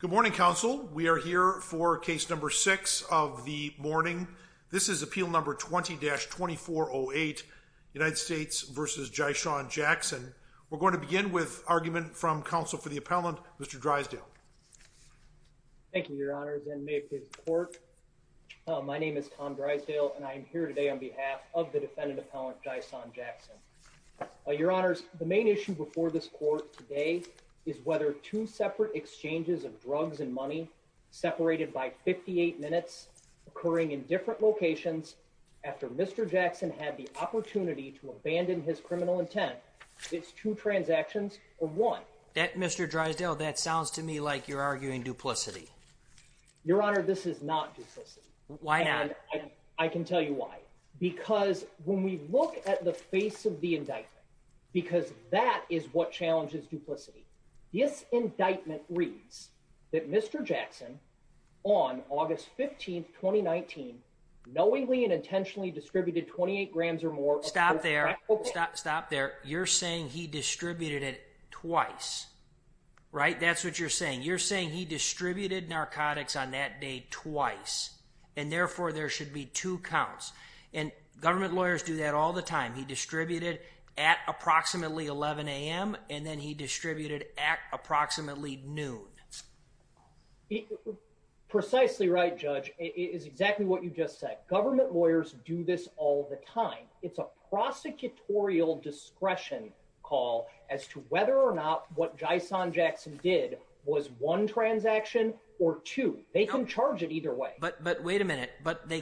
Good morning, counsel. We are here for case number six of the morning. This is appeal number 20-2408 United States v. Jyshawn Jackson. We're going to begin with argument from counsel for the appellant, Mr. Drysdale. Thank you, your honors and may it please the court. My name is Tom Drysdale and I am here today on behalf of the defendant appellant Jyshawn Jackson. Your honors, the main issue before this court today is whether two separate exchanges of drugs and money separated by 58 minutes occurring in different locations after Mr. Jackson had the opportunity to abandon his criminal intent. It's two transactions or one. That, Mr. Drysdale, that sounds to me like you're arguing duplicity. Your honor, this is not duplicity. Why not? I can tell you why. Because when we look at the face of the indictment, because that is what challenges duplicity, this indictment reads that Mr. Jackson on August 15, 2019, knowingly and intentionally distributed 28 grams or more. Stop there. Stop there. You're saying he distributed it twice, right? That's what you're saying. You're saying he distributed narcotics on that day twice and therefore there should be two counts. And government lawyers do that all the time. He distributed at approximately 11 a.m. and then he distributed at approximately noon. Precisely right, Judge. It is exactly what you just said. Government lawyers do this all the time. It's a prosecutorial discretion call as to whether or not what Jyshawn Jackson did was one transaction or two. They can charge it either way. But wait a minute. But they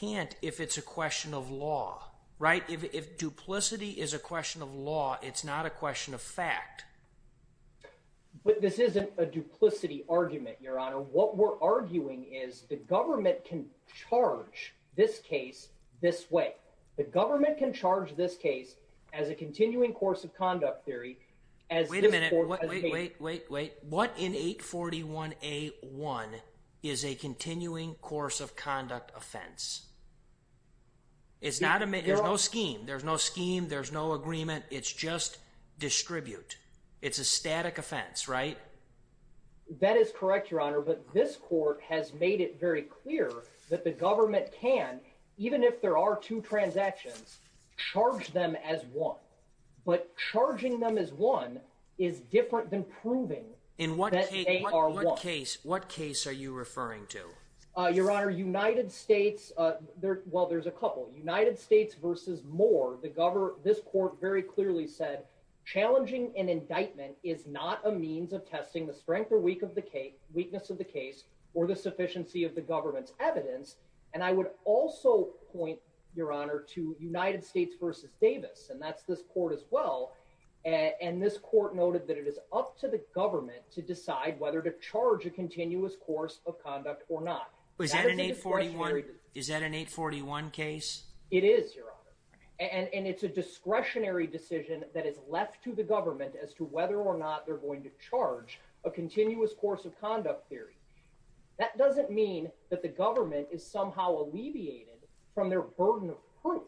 can't if it's a question of law, right? If duplicity is a question of law, it's not a question of fact. But this isn't a duplicity argument, your honor. What we're arguing is the government can charge this case this way. The government can charge this case as a continuing course of conduct theory. Wait a minute. Wait, wait, wait, wait. What in 841A1 is a continuing course of conduct offense? It's not a there's no scheme. There's no scheme. There's no agreement. It's just distribute. It's a static offense, right? That is correct, your honor. But this court has made it very clear that the government can, even if there are two transactions, charge them as one. But charging them as one is different than proving that they are one. In what case are you referring to, your honor? United States? Well, there's a couple United States versus more. The government. This court very clearly said challenging an indictment is not a means of testing the strength or weak of the weakness of the case or the sufficiency of the government's evidence. And I would also point your honor to United States versus Davis, and that's this court as well. And this court noted that it is up to the government to decide whether to charge a continuous course of conduct or not. Is that an 841 case? It is, your honor. And it's a discretionary decision that is left to the government as to whether or not they're going to charge a continuous course of conduct theory. That doesn't mean that the government is somehow alleviated from their burden of proof.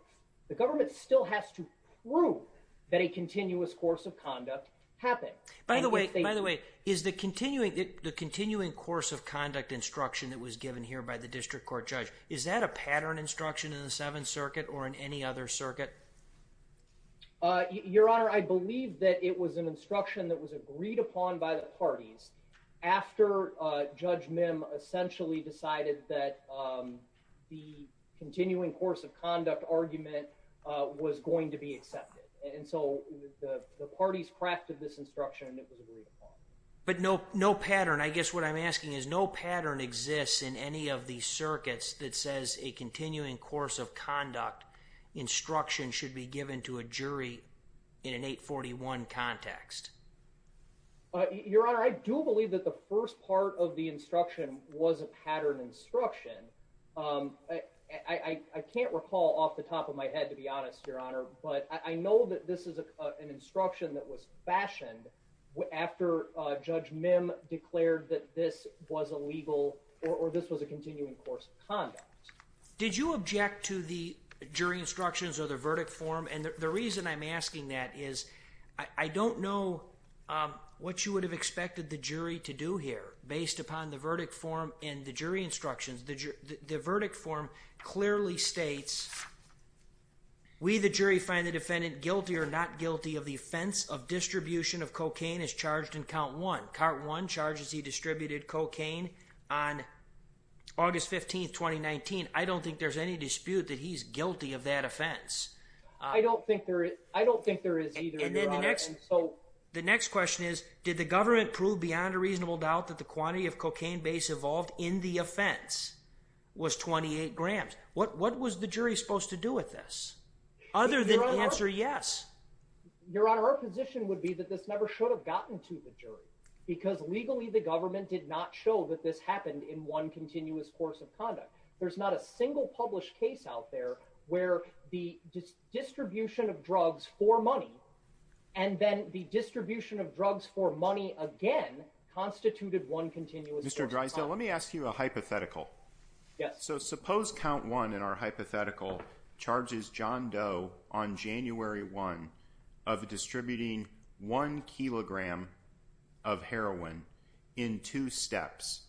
The government still has to prove that a continuous course of conduct happened. By the way, by the way, is the continuing, the continuing course of conduct instruction that was given here by the district court judge, is that a pattern instruction in the Seventh Circuit or in any other circuit? Your honor, I believe that it was an instruction that was agreed upon by the parties after Judge Mim essentially decided that the continuing course of instruction. But no, no pattern. I guess what I'm asking is no pattern exists in any of these circuits that says a continuing course of conduct instruction should be given to a jury in an 841 context. Your honor, I do believe that the first part of the instruction was a pattern instruction. I can't recall off the top of my head to be honest, your honor, but I know that this is an instruction that was fashioned after Judge Mim declared that this was a legal or this was a continuing course of conduct. Did you object to the jury instructions or the verdict form? And the reason I'm asking that is I don't know what you would have expected the jury to do here based upon the verdict form and the jury instructions. The verdict form clearly states, we the jury find the defendant guilty or not guilty of the offense of distribution of cocaine is charged in count one. Count one charges he distributed cocaine on August 15, 2019. I don't think there's any dispute that he's guilty of that offense. I don't think there is. I don't think there is either. The next question is, did the government prove beyond a reasonable doubt that the quantity of cocaine base evolved in the offense was 28 grams? What was the jury supposed to do with this other than answer? Yes, your honor. Our position would be that this never should have gotten to the jury because legally the government did not show that this happened in one continuous course of conduct. There's not a single published case out there where the distribution of drugs for money and then the distribution of drugs for money again constituted one continuous. Mr Drysdale, let me ask you a hypothetical. Yes. So suppose count one in our hypothetical charges John Doe on January one of distributing one kilogram of heroin in two steps.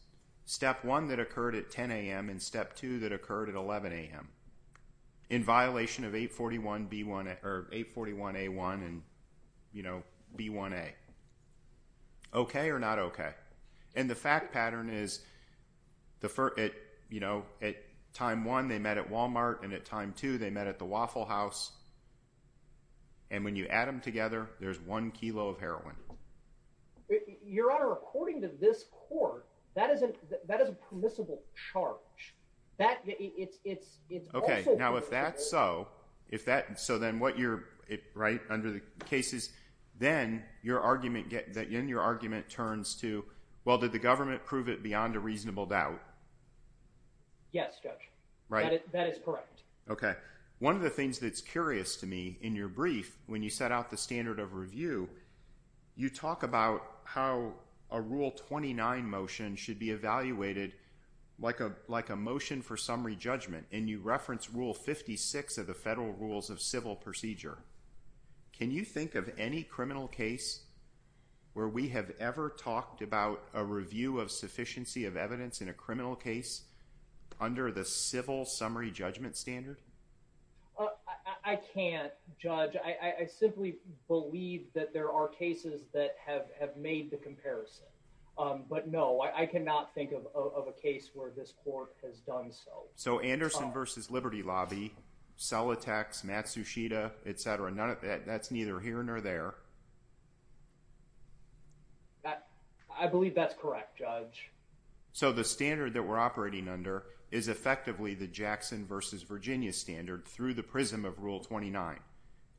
Step one that occurred at 10 a.m. and step two that occurred at 11 a.m. in violation of 841 B1 or 841 A1 and you know, B1A. Okay or not? Okay. And the fact pattern is the first, you know, at time one they met at Walmart and at time two they met at the Waffle House and when you add them together, there's one kilo of heroin. Your honor, according to this court, that isn't that is a permissible charge that it's okay. Now, if that's so, if that's so, then what you're right under the case is then your argument that in your argument turns to well, did the government prove it beyond a reasonable doubt? Yes, judge. Right. That is correct. Okay. One of the things that's curious to me in your brief, when you set out the standard of review, you talk about how a rule 29 motion should be evaluated like a like a motion for summary judgment and you reference rule 56 of the federal rules of civil procedure. Can you think of any criminal case where we have ever talked about a review of sufficiency of evidence in a criminal case under the civil summary judgment standard? I can't judge. I simply believe that there are cases that have have made the comparison. Um, but no, I cannot think of of a case where this court has done so. So Anderson versus Liberty Lobby, cell attacks, Matsushita, etcetera. None of that. That's neither here nor there. I believe that's correct, Judge. So the standard that we're operating under is effectively the Jackson versus Virginia standard through the prism of Rule 29.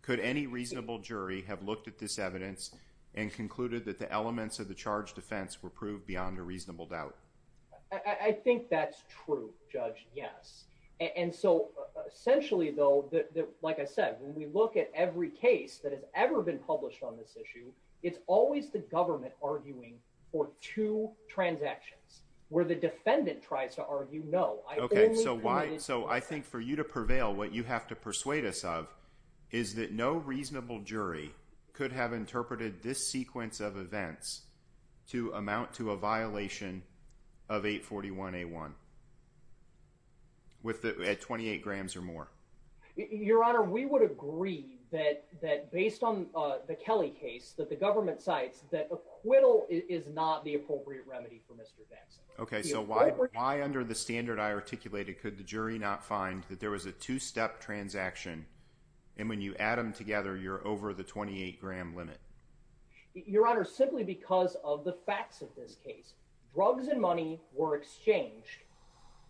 Could any reasonable jury have looked at this evidence and concluded that the elements of the charge defense were proved beyond a reasonable doubt? I think that's true, Judge. Yes. And so essentially, though, like I said, when it's ever been published on this issue, it's always the government arguing for two transactions where the defendant tries to argue. No. So why? So I think for you to prevail, what you have to persuade us of is that no reasonable jury could have interpreted this sequence of events to amount to a violation of 8 41 a one with 28 grams or more. Your Honor, we would agree that that based on the Kelly case that the government sites that acquittal is not the appropriate remedy for Mr Jackson. Okay, so why? Why? Under the standard I articulated, could the jury not find that there was a two step transaction? And when you add them together, you're over the 28 gram limit. Your Honor, simply because of the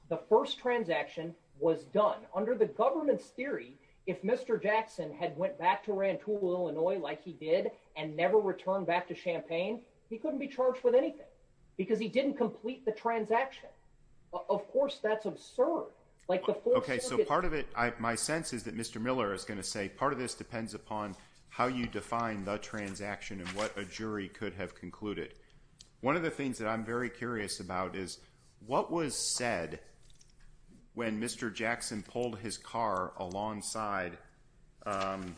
the first transaction was done under the government's theory. If Mr Jackson had went back to ran to Illinois like he did and never returned back to Champaign, he couldn't be charged with anything because he didn't complete the transaction. Of course, that's absurd. Like, okay, so part of it, my sense is that Mr Miller is going to say part of this depends upon how you define the transaction and what a jury could have concluded. One of the things that I'm very curious about is what was said when Mr Jackson pulled his car alongside, um,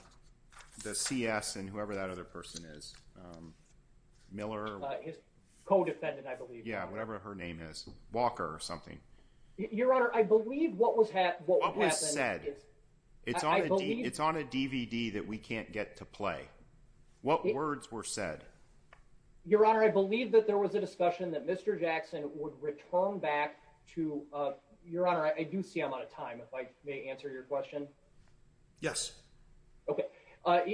the CS and whoever that other person is. Um, Miller, his co defendant, I believe. Yeah, whatever her name is, Walker or something. Your Honor, I believe what was what was said. It's on. It's on a DVD that we can't get to play. What words were said? Your Honor, I believe that there was a Mr Jackson would return back to your honor. I do see I'm out of time. If I may answer your question. Yes. Okay.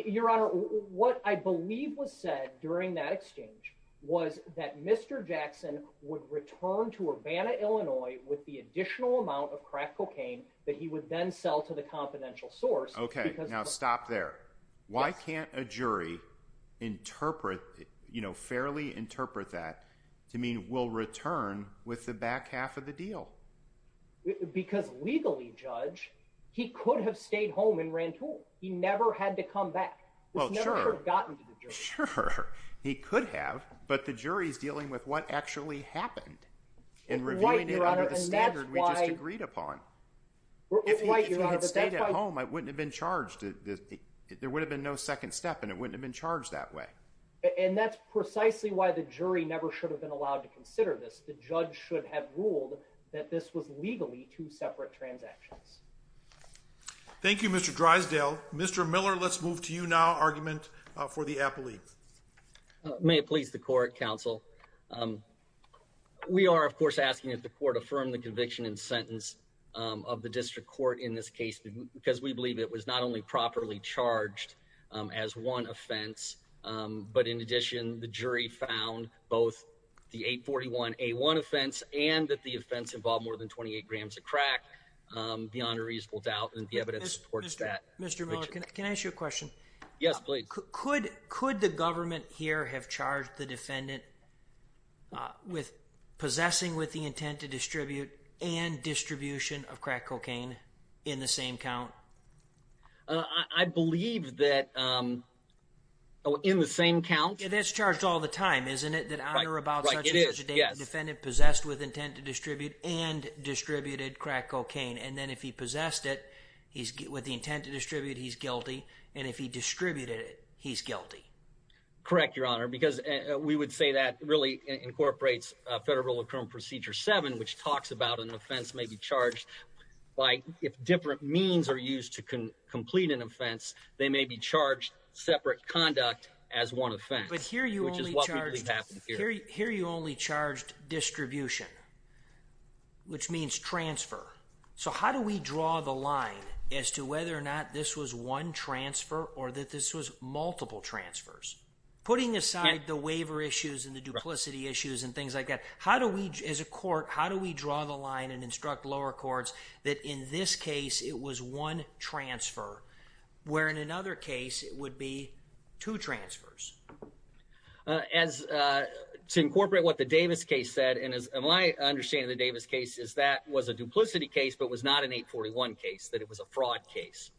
Your Honor, what I believe was said during that exchange was that Mr Jackson would return to Urbana Illinois with the additional amount of crack cocaine that he would then sell to the confidential source. Okay, now stop there. Why can't a jury interpret, you mean, will return with the back half of the deal? Because legally, Judge, he could have stayed home and ran tool. He never had to come back. Well, sure. Gotten. Sure, he could have. But the jury is dealing with what actually happened in reviewing it under the standard we just agreed upon. If you had stayed at home, I wouldn't have been charged. There would have been no second step, and it wouldn't have been charged that way. And that's precisely why the jury never should have been allowed to consider this. The judge should have ruled that this was legally two separate transactions. Thank you, Mr Drysdale. Mr Miller, let's move to you now. Argument for the Apple Leaf. May it please the court counsel. Um, we are, of course, asking if the court affirmed the conviction and sentence of the district court in this case because we believe it was not only properly charged as one offense, but in addition, the jury found both the 8 41 a one offense and that the offense involved more than 28 grams of crack. Um, beyond a reasonable doubt, and the evidence towards that, Mr. Can I ask you a question? Yes, please. Could could the government here have charged the defendant with possessing with the intent to distribute and distribution of crack in the same count? That's charged all the time, isn't it? That honor about it is defended, possessed with intent to distribute and distributed crack cocaine. And then if he possessed it, he's with the intent to distribute. He's guilty. And if he distributed it, he's guilty. Correct, Your Honor. Because we would say that really incorporates federal current Procedure seven, which talks about an offense may be charged by if different means are used to complete an offense, they may be charged separate conduct as one offense. But here you only charge here. You only charged distribution, which means transfer. So how do we draw the line as to whether or not this was one transfer or that this was multiple transfers putting aside the waiver issues and the duplicity issues and things like that? How do we as a court, how do we draw the line and instruct lower courts that in this case it was one transfer, where in another case it would be two transfers as to incorporate what the Davis case said. And as my understanding, the Davis case is that was a duplicity case, but was not an 8 41 case that it was a fraud case.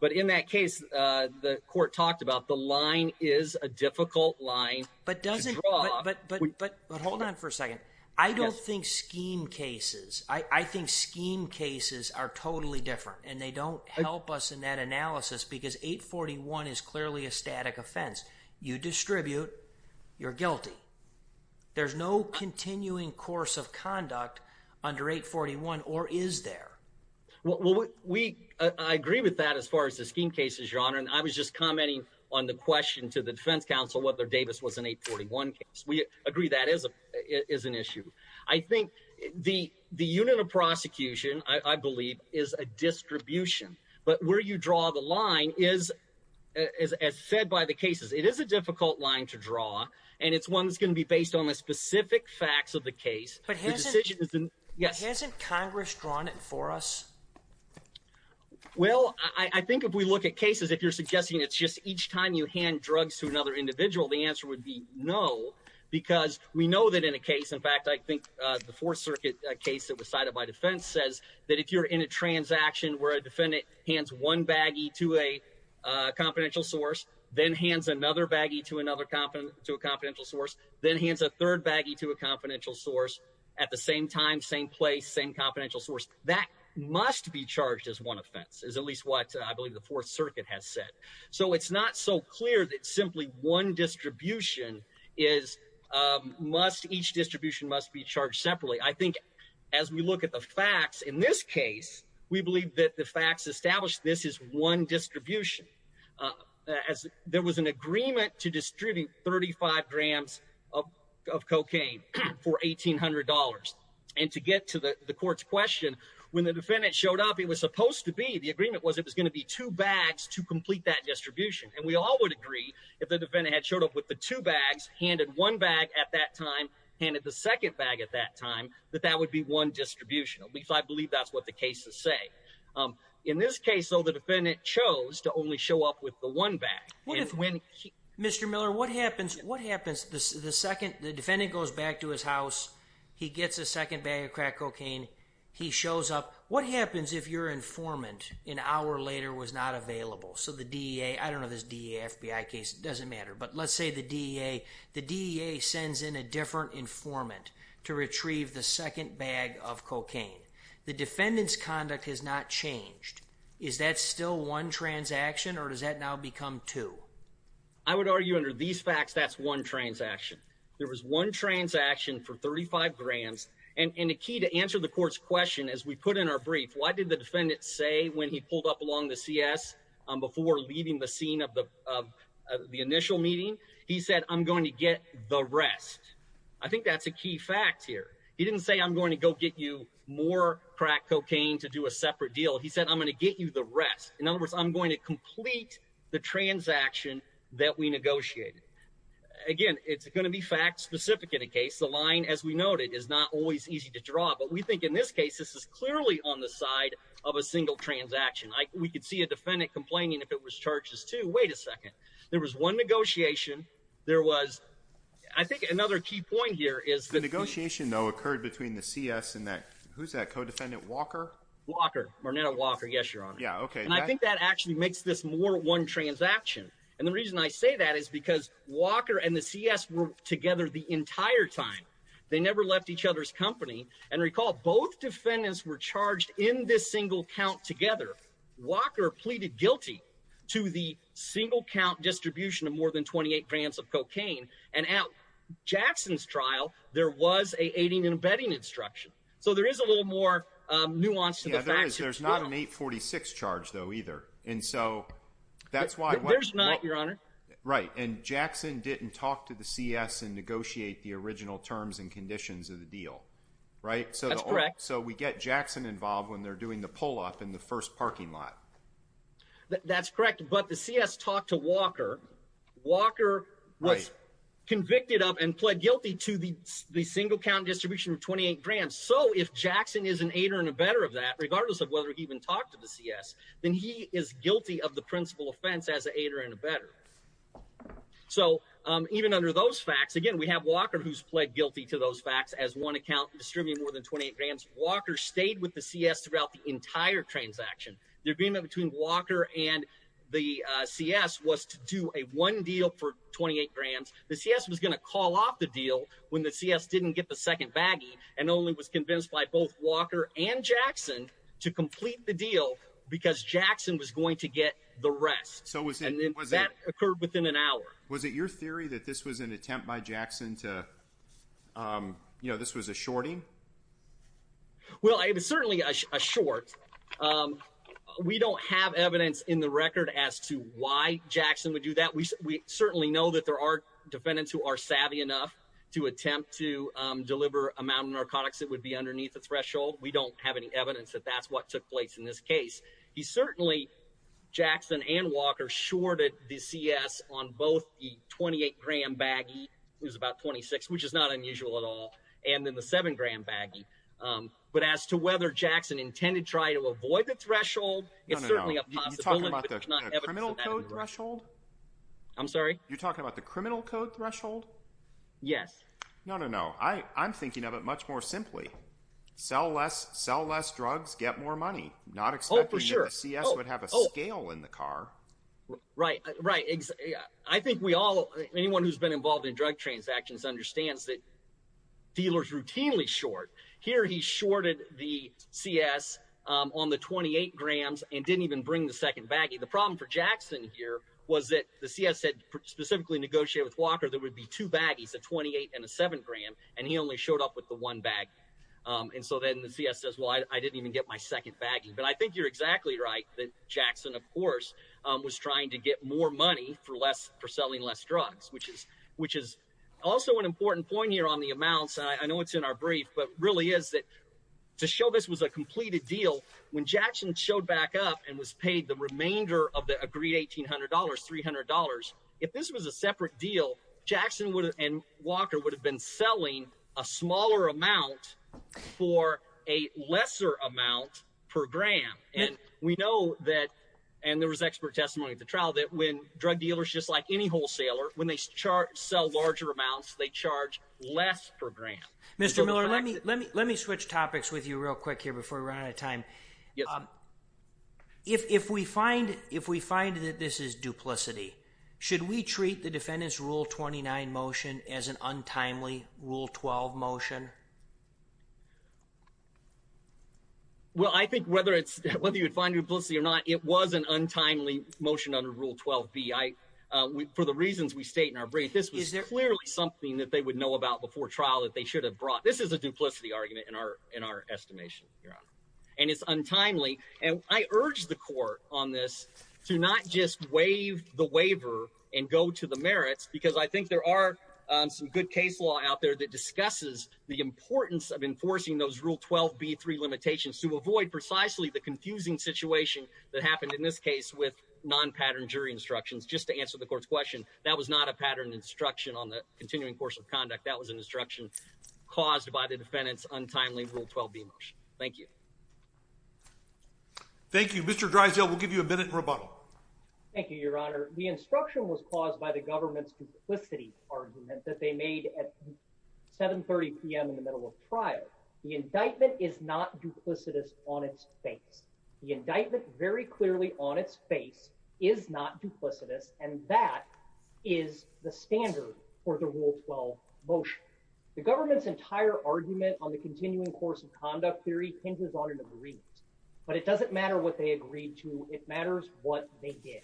But in that case, the court talked about the line is a difficult line, but doesn't but but but hold on for a second. I don't think scheme cases. I think scheme cases are totally different, and they don't help us in that analysis because 8 41 is clearly a static offense. You distribute. You're guilty. There's no continuing course of conduct under 8 41 or is there? Well, we I agree with that. As far as the scheme cases, your honor, and I was just commenting on the question to the defense counsel whether Davis was an 8 41. We agree that is is an issue. I think the unit of prosecution, I believe, is a distribution. But where you draw the line is, as said by the cases, it is a difficult line to draw, and it's one that's gonna be based on the specific facts of the case. But yes, hasn't Congress drawn it for us? Well, I think if we look at cases, if you're suggesting it's just each time you hand drugs to another individual, the answer would be no, because we know that in a case, in fact, I think the Fourth Circuit case that was cited by defense says that if you're in a transaction where a defendant hands one baggy to a confidential source, then hands another baggy to another competent to a confidential source, then hands a third baggy to a confidential source at the same time, same place, same confidential source that must be charged as one offense is at least what I believe the Fourth Circuit has said. So it's not so clear that simply one distribution is, um, must each distribution must be charged separately. I think as we look at the facts in this case, we believe that the facts established this is one distribution. Uh, as there was an agreement to distributing 35 grams of cocaine for $1800 and to get to the court's question when the defendant showed up, it was supposed to be the agreement was it was gonna be two bags to complete that distribution. And we all would agree if the defendant had showed up with the two bags handed one bag at that time, handed the second bag at that time that that would be one distribution. At least I believe that's what the cases say. Um, in this case, so the defendant chose to only show up with the one back when Mr Miller, what happens? What happens? The second the defendant goes back to his house, he gets a second bag of crack cocaine. He happens if your informant an hour later was not available. So the D. A. I don't know this D. A. F. B. I. Case doesn't matter. But let's say the D. A. The D. A. Sends in a different informant to retrieve the second bag of cocaine. The defendant's conduct has not changed. Is that still one transaction or does that now become two? I would argue under these facts, that's one transaction. There was one transaction for 35 grands and a key to answer the court's question. As we put in our brief, why did the defendant say when he pulled up along the C. S. Before leaving the scene of the of the initial meeting, he said, I'm going to get the rest. I think that's a key fact here. He didn't say I'm going to go get you more crack cocaine to do a separate deal. He said, I'm gonna get you the rest. In other words, I'm going to complete the transaction that we negotiated again. It's gonna be fact specific in a case. The line, as we noted, is not always easy to draw. But we think in this case, this is clearly on the side of a single transaction. We could see a defendant complaining if it was charges to wait a second. There was one negotiation. There was, I think another key point here is the negotiation, though, occurred between the C. S. And that who's that co defendant Walker Walker Marnetta Walker? Yes, Your Honor. Yeah. Okay. And I think that actually makes this more one transaction. And the reason I say that is because Walker and the C. S. Were together the entire time. They never left each other's company and recall. Both defendants were charged in this single count together. Walker pleaded guilty to the single count distribution of more than 28 brands of cocaine and out Jackson's trial. There was a aiding and abetting instruction. So there is a little more nuance. There's not an 8 46 charge, though, either. And so that's why there's not, Your Honor. Right. And Jackson didn't talk to the C. S. And negotiate the original terms and conditions of the deal, right? So correct. So we get Jackson involved when they're doing the pull up in the first parking lot. That's correct. But the C. S. Talked to Walker. Walker was convicted up and pled guilty to the single count distribution of 28 grand. So if Jackson is an eight or in a better of that, regardless of whether he even talked to the C. S. Then he is guilty of the Even under those facts again, we have Walker, who's pled guilty to those facts as one account distributing more than 28 grams. Walker stayed with the C. S. Throughout the entire transaction. They're being that between Walker and the C. S. Was to do a one deal for 28 grams. The C. S. Was gonna call off the deal when the C. S. Didn't get the second baggy and only was convinced by both Walker and Jackson to complete the deal because Jackson was going to get the rest. So was it that occurred within an hour? Was it your theory that this was an attempt by Jackson toe? Um, you know, this was a shorty. Well, it is certainly a short. Um, we don't have evidence in the record as to why Jackson would do that. We certainly know that there are defendants who are savvy enough to attempt to deliver amount of narcotics that would be underneath the threshold. We don't have any evidence that that's what took place in this case. He's certainly Jackson and Walker shorted the C. S. On both the 28 gram baggy. It was about 26, which is not unusual at all. And then the seven gram baggy. Um, but as to whether Jackson intended try to avoid the threshold, it's certainly a possible criminal code threshold. I'm sorry. You're talking about the criminal code threshold? Yes. No, no, no. I I'm thinking of it much more simply. Sell less, sell less drugs, get more money. Not for sure. C. S. Would have a scale in the car. Right, right. I think we all anyone who's been involved in drug transactions understands that dealers routinely short here. He shorted the C. S. On the 28 grams and didn't even bring the second baggy. The problem for Jackson here was that the C. S. Said specifically negotiated with Walker. There would be two baggies, a 28 and a seven gram, and he only showed up with the one bag. Um, and so then the C. S. Says, Well, I didn't even get my second baggy. But I think you're exactly right that Jackson, of course, was trying to get more money for less for selling less drugs, which is which is also an important point here on the amounts. I know it's in our brief, but really is that to show this was a completed deal when Jackson showed back up and was paid the remainder of the agreed $1800 $300. If this was a separate deal, Jackson would and Walker would have been selling a smaller amount for a lesser amount per gram. And we know that and there was expert testimony at the trial that when drug dealers, just like any wholesaler when they chart sell larger amounts, they charge less per gram. Mr Miller, let me let me let me switch topics with you real quick here before we run out of time. Um, if if we find if we find that this is duplicity, should we treat the defendant's Rule 29 motion as an untimely Rule 12 motion? Well, I think whether it's whether you would find your policy or not, it was an untimely motion under Rule 12 B. I for the reasons we state in our brief, this is clearly something that they would know about before trial that they should have brought. This is a duplicity argument in our in our estimation, Your Honor, and it's untimely. And I urge the court on this to not just the waiver and go to the merits because I think there are some good case law out there that discusses the importance of enforcing those Rule 12 B three limitations to avoid precisely the confusing situation that happened in this case with non pattern jury instructions. Just to answer the court's question. That was not a pattern instruction on the continuing course of conduct. That was an instruction caused by the defendant's untimely Rule 12 B motion. Thank you. Thank you. Mr Drysdale will give you a minute and rebuttal. Thank you, Your Honor. The instruction was caused by the government's duplicity argument that they made at 7 30 p.m. in the middle of trial. The indictment is not duplicitous on its face. The indictment very clearly on its face is not duplicitous, and that is the standard for the Rule 12 motion. The government's entire argument on the continuing course of conduct theory hinges on in the Marines, but it doesn't matter what they agreed to. It matters what they did.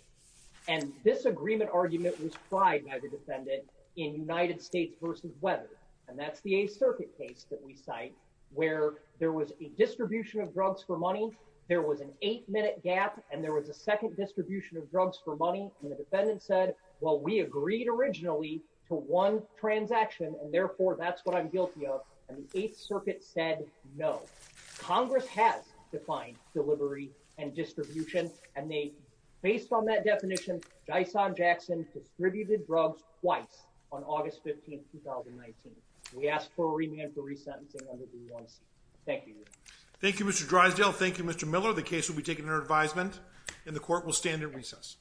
And this agreement argument was tried by the defendant in United States versus weather. And that's the circuit case that we cite where there was a distribution of drugs for money. There was an eight minute gap, and there was a second distribution of drugs for money. And the defendant said, Well, we agreed originally to one transaction, and therefore that's what I'm guilty of. And the Eighth Circuit said, No, Congress has defined delivery and distribution. And they based on that definition, Dyson Jackson distributed drugs twice on August 15 2019. We asked for a remand for resentencing. Thank you. Thank you, Mr Drysdale. Thank you, Mr Miller. The case will be taking her advisement, and the court will stand at recess.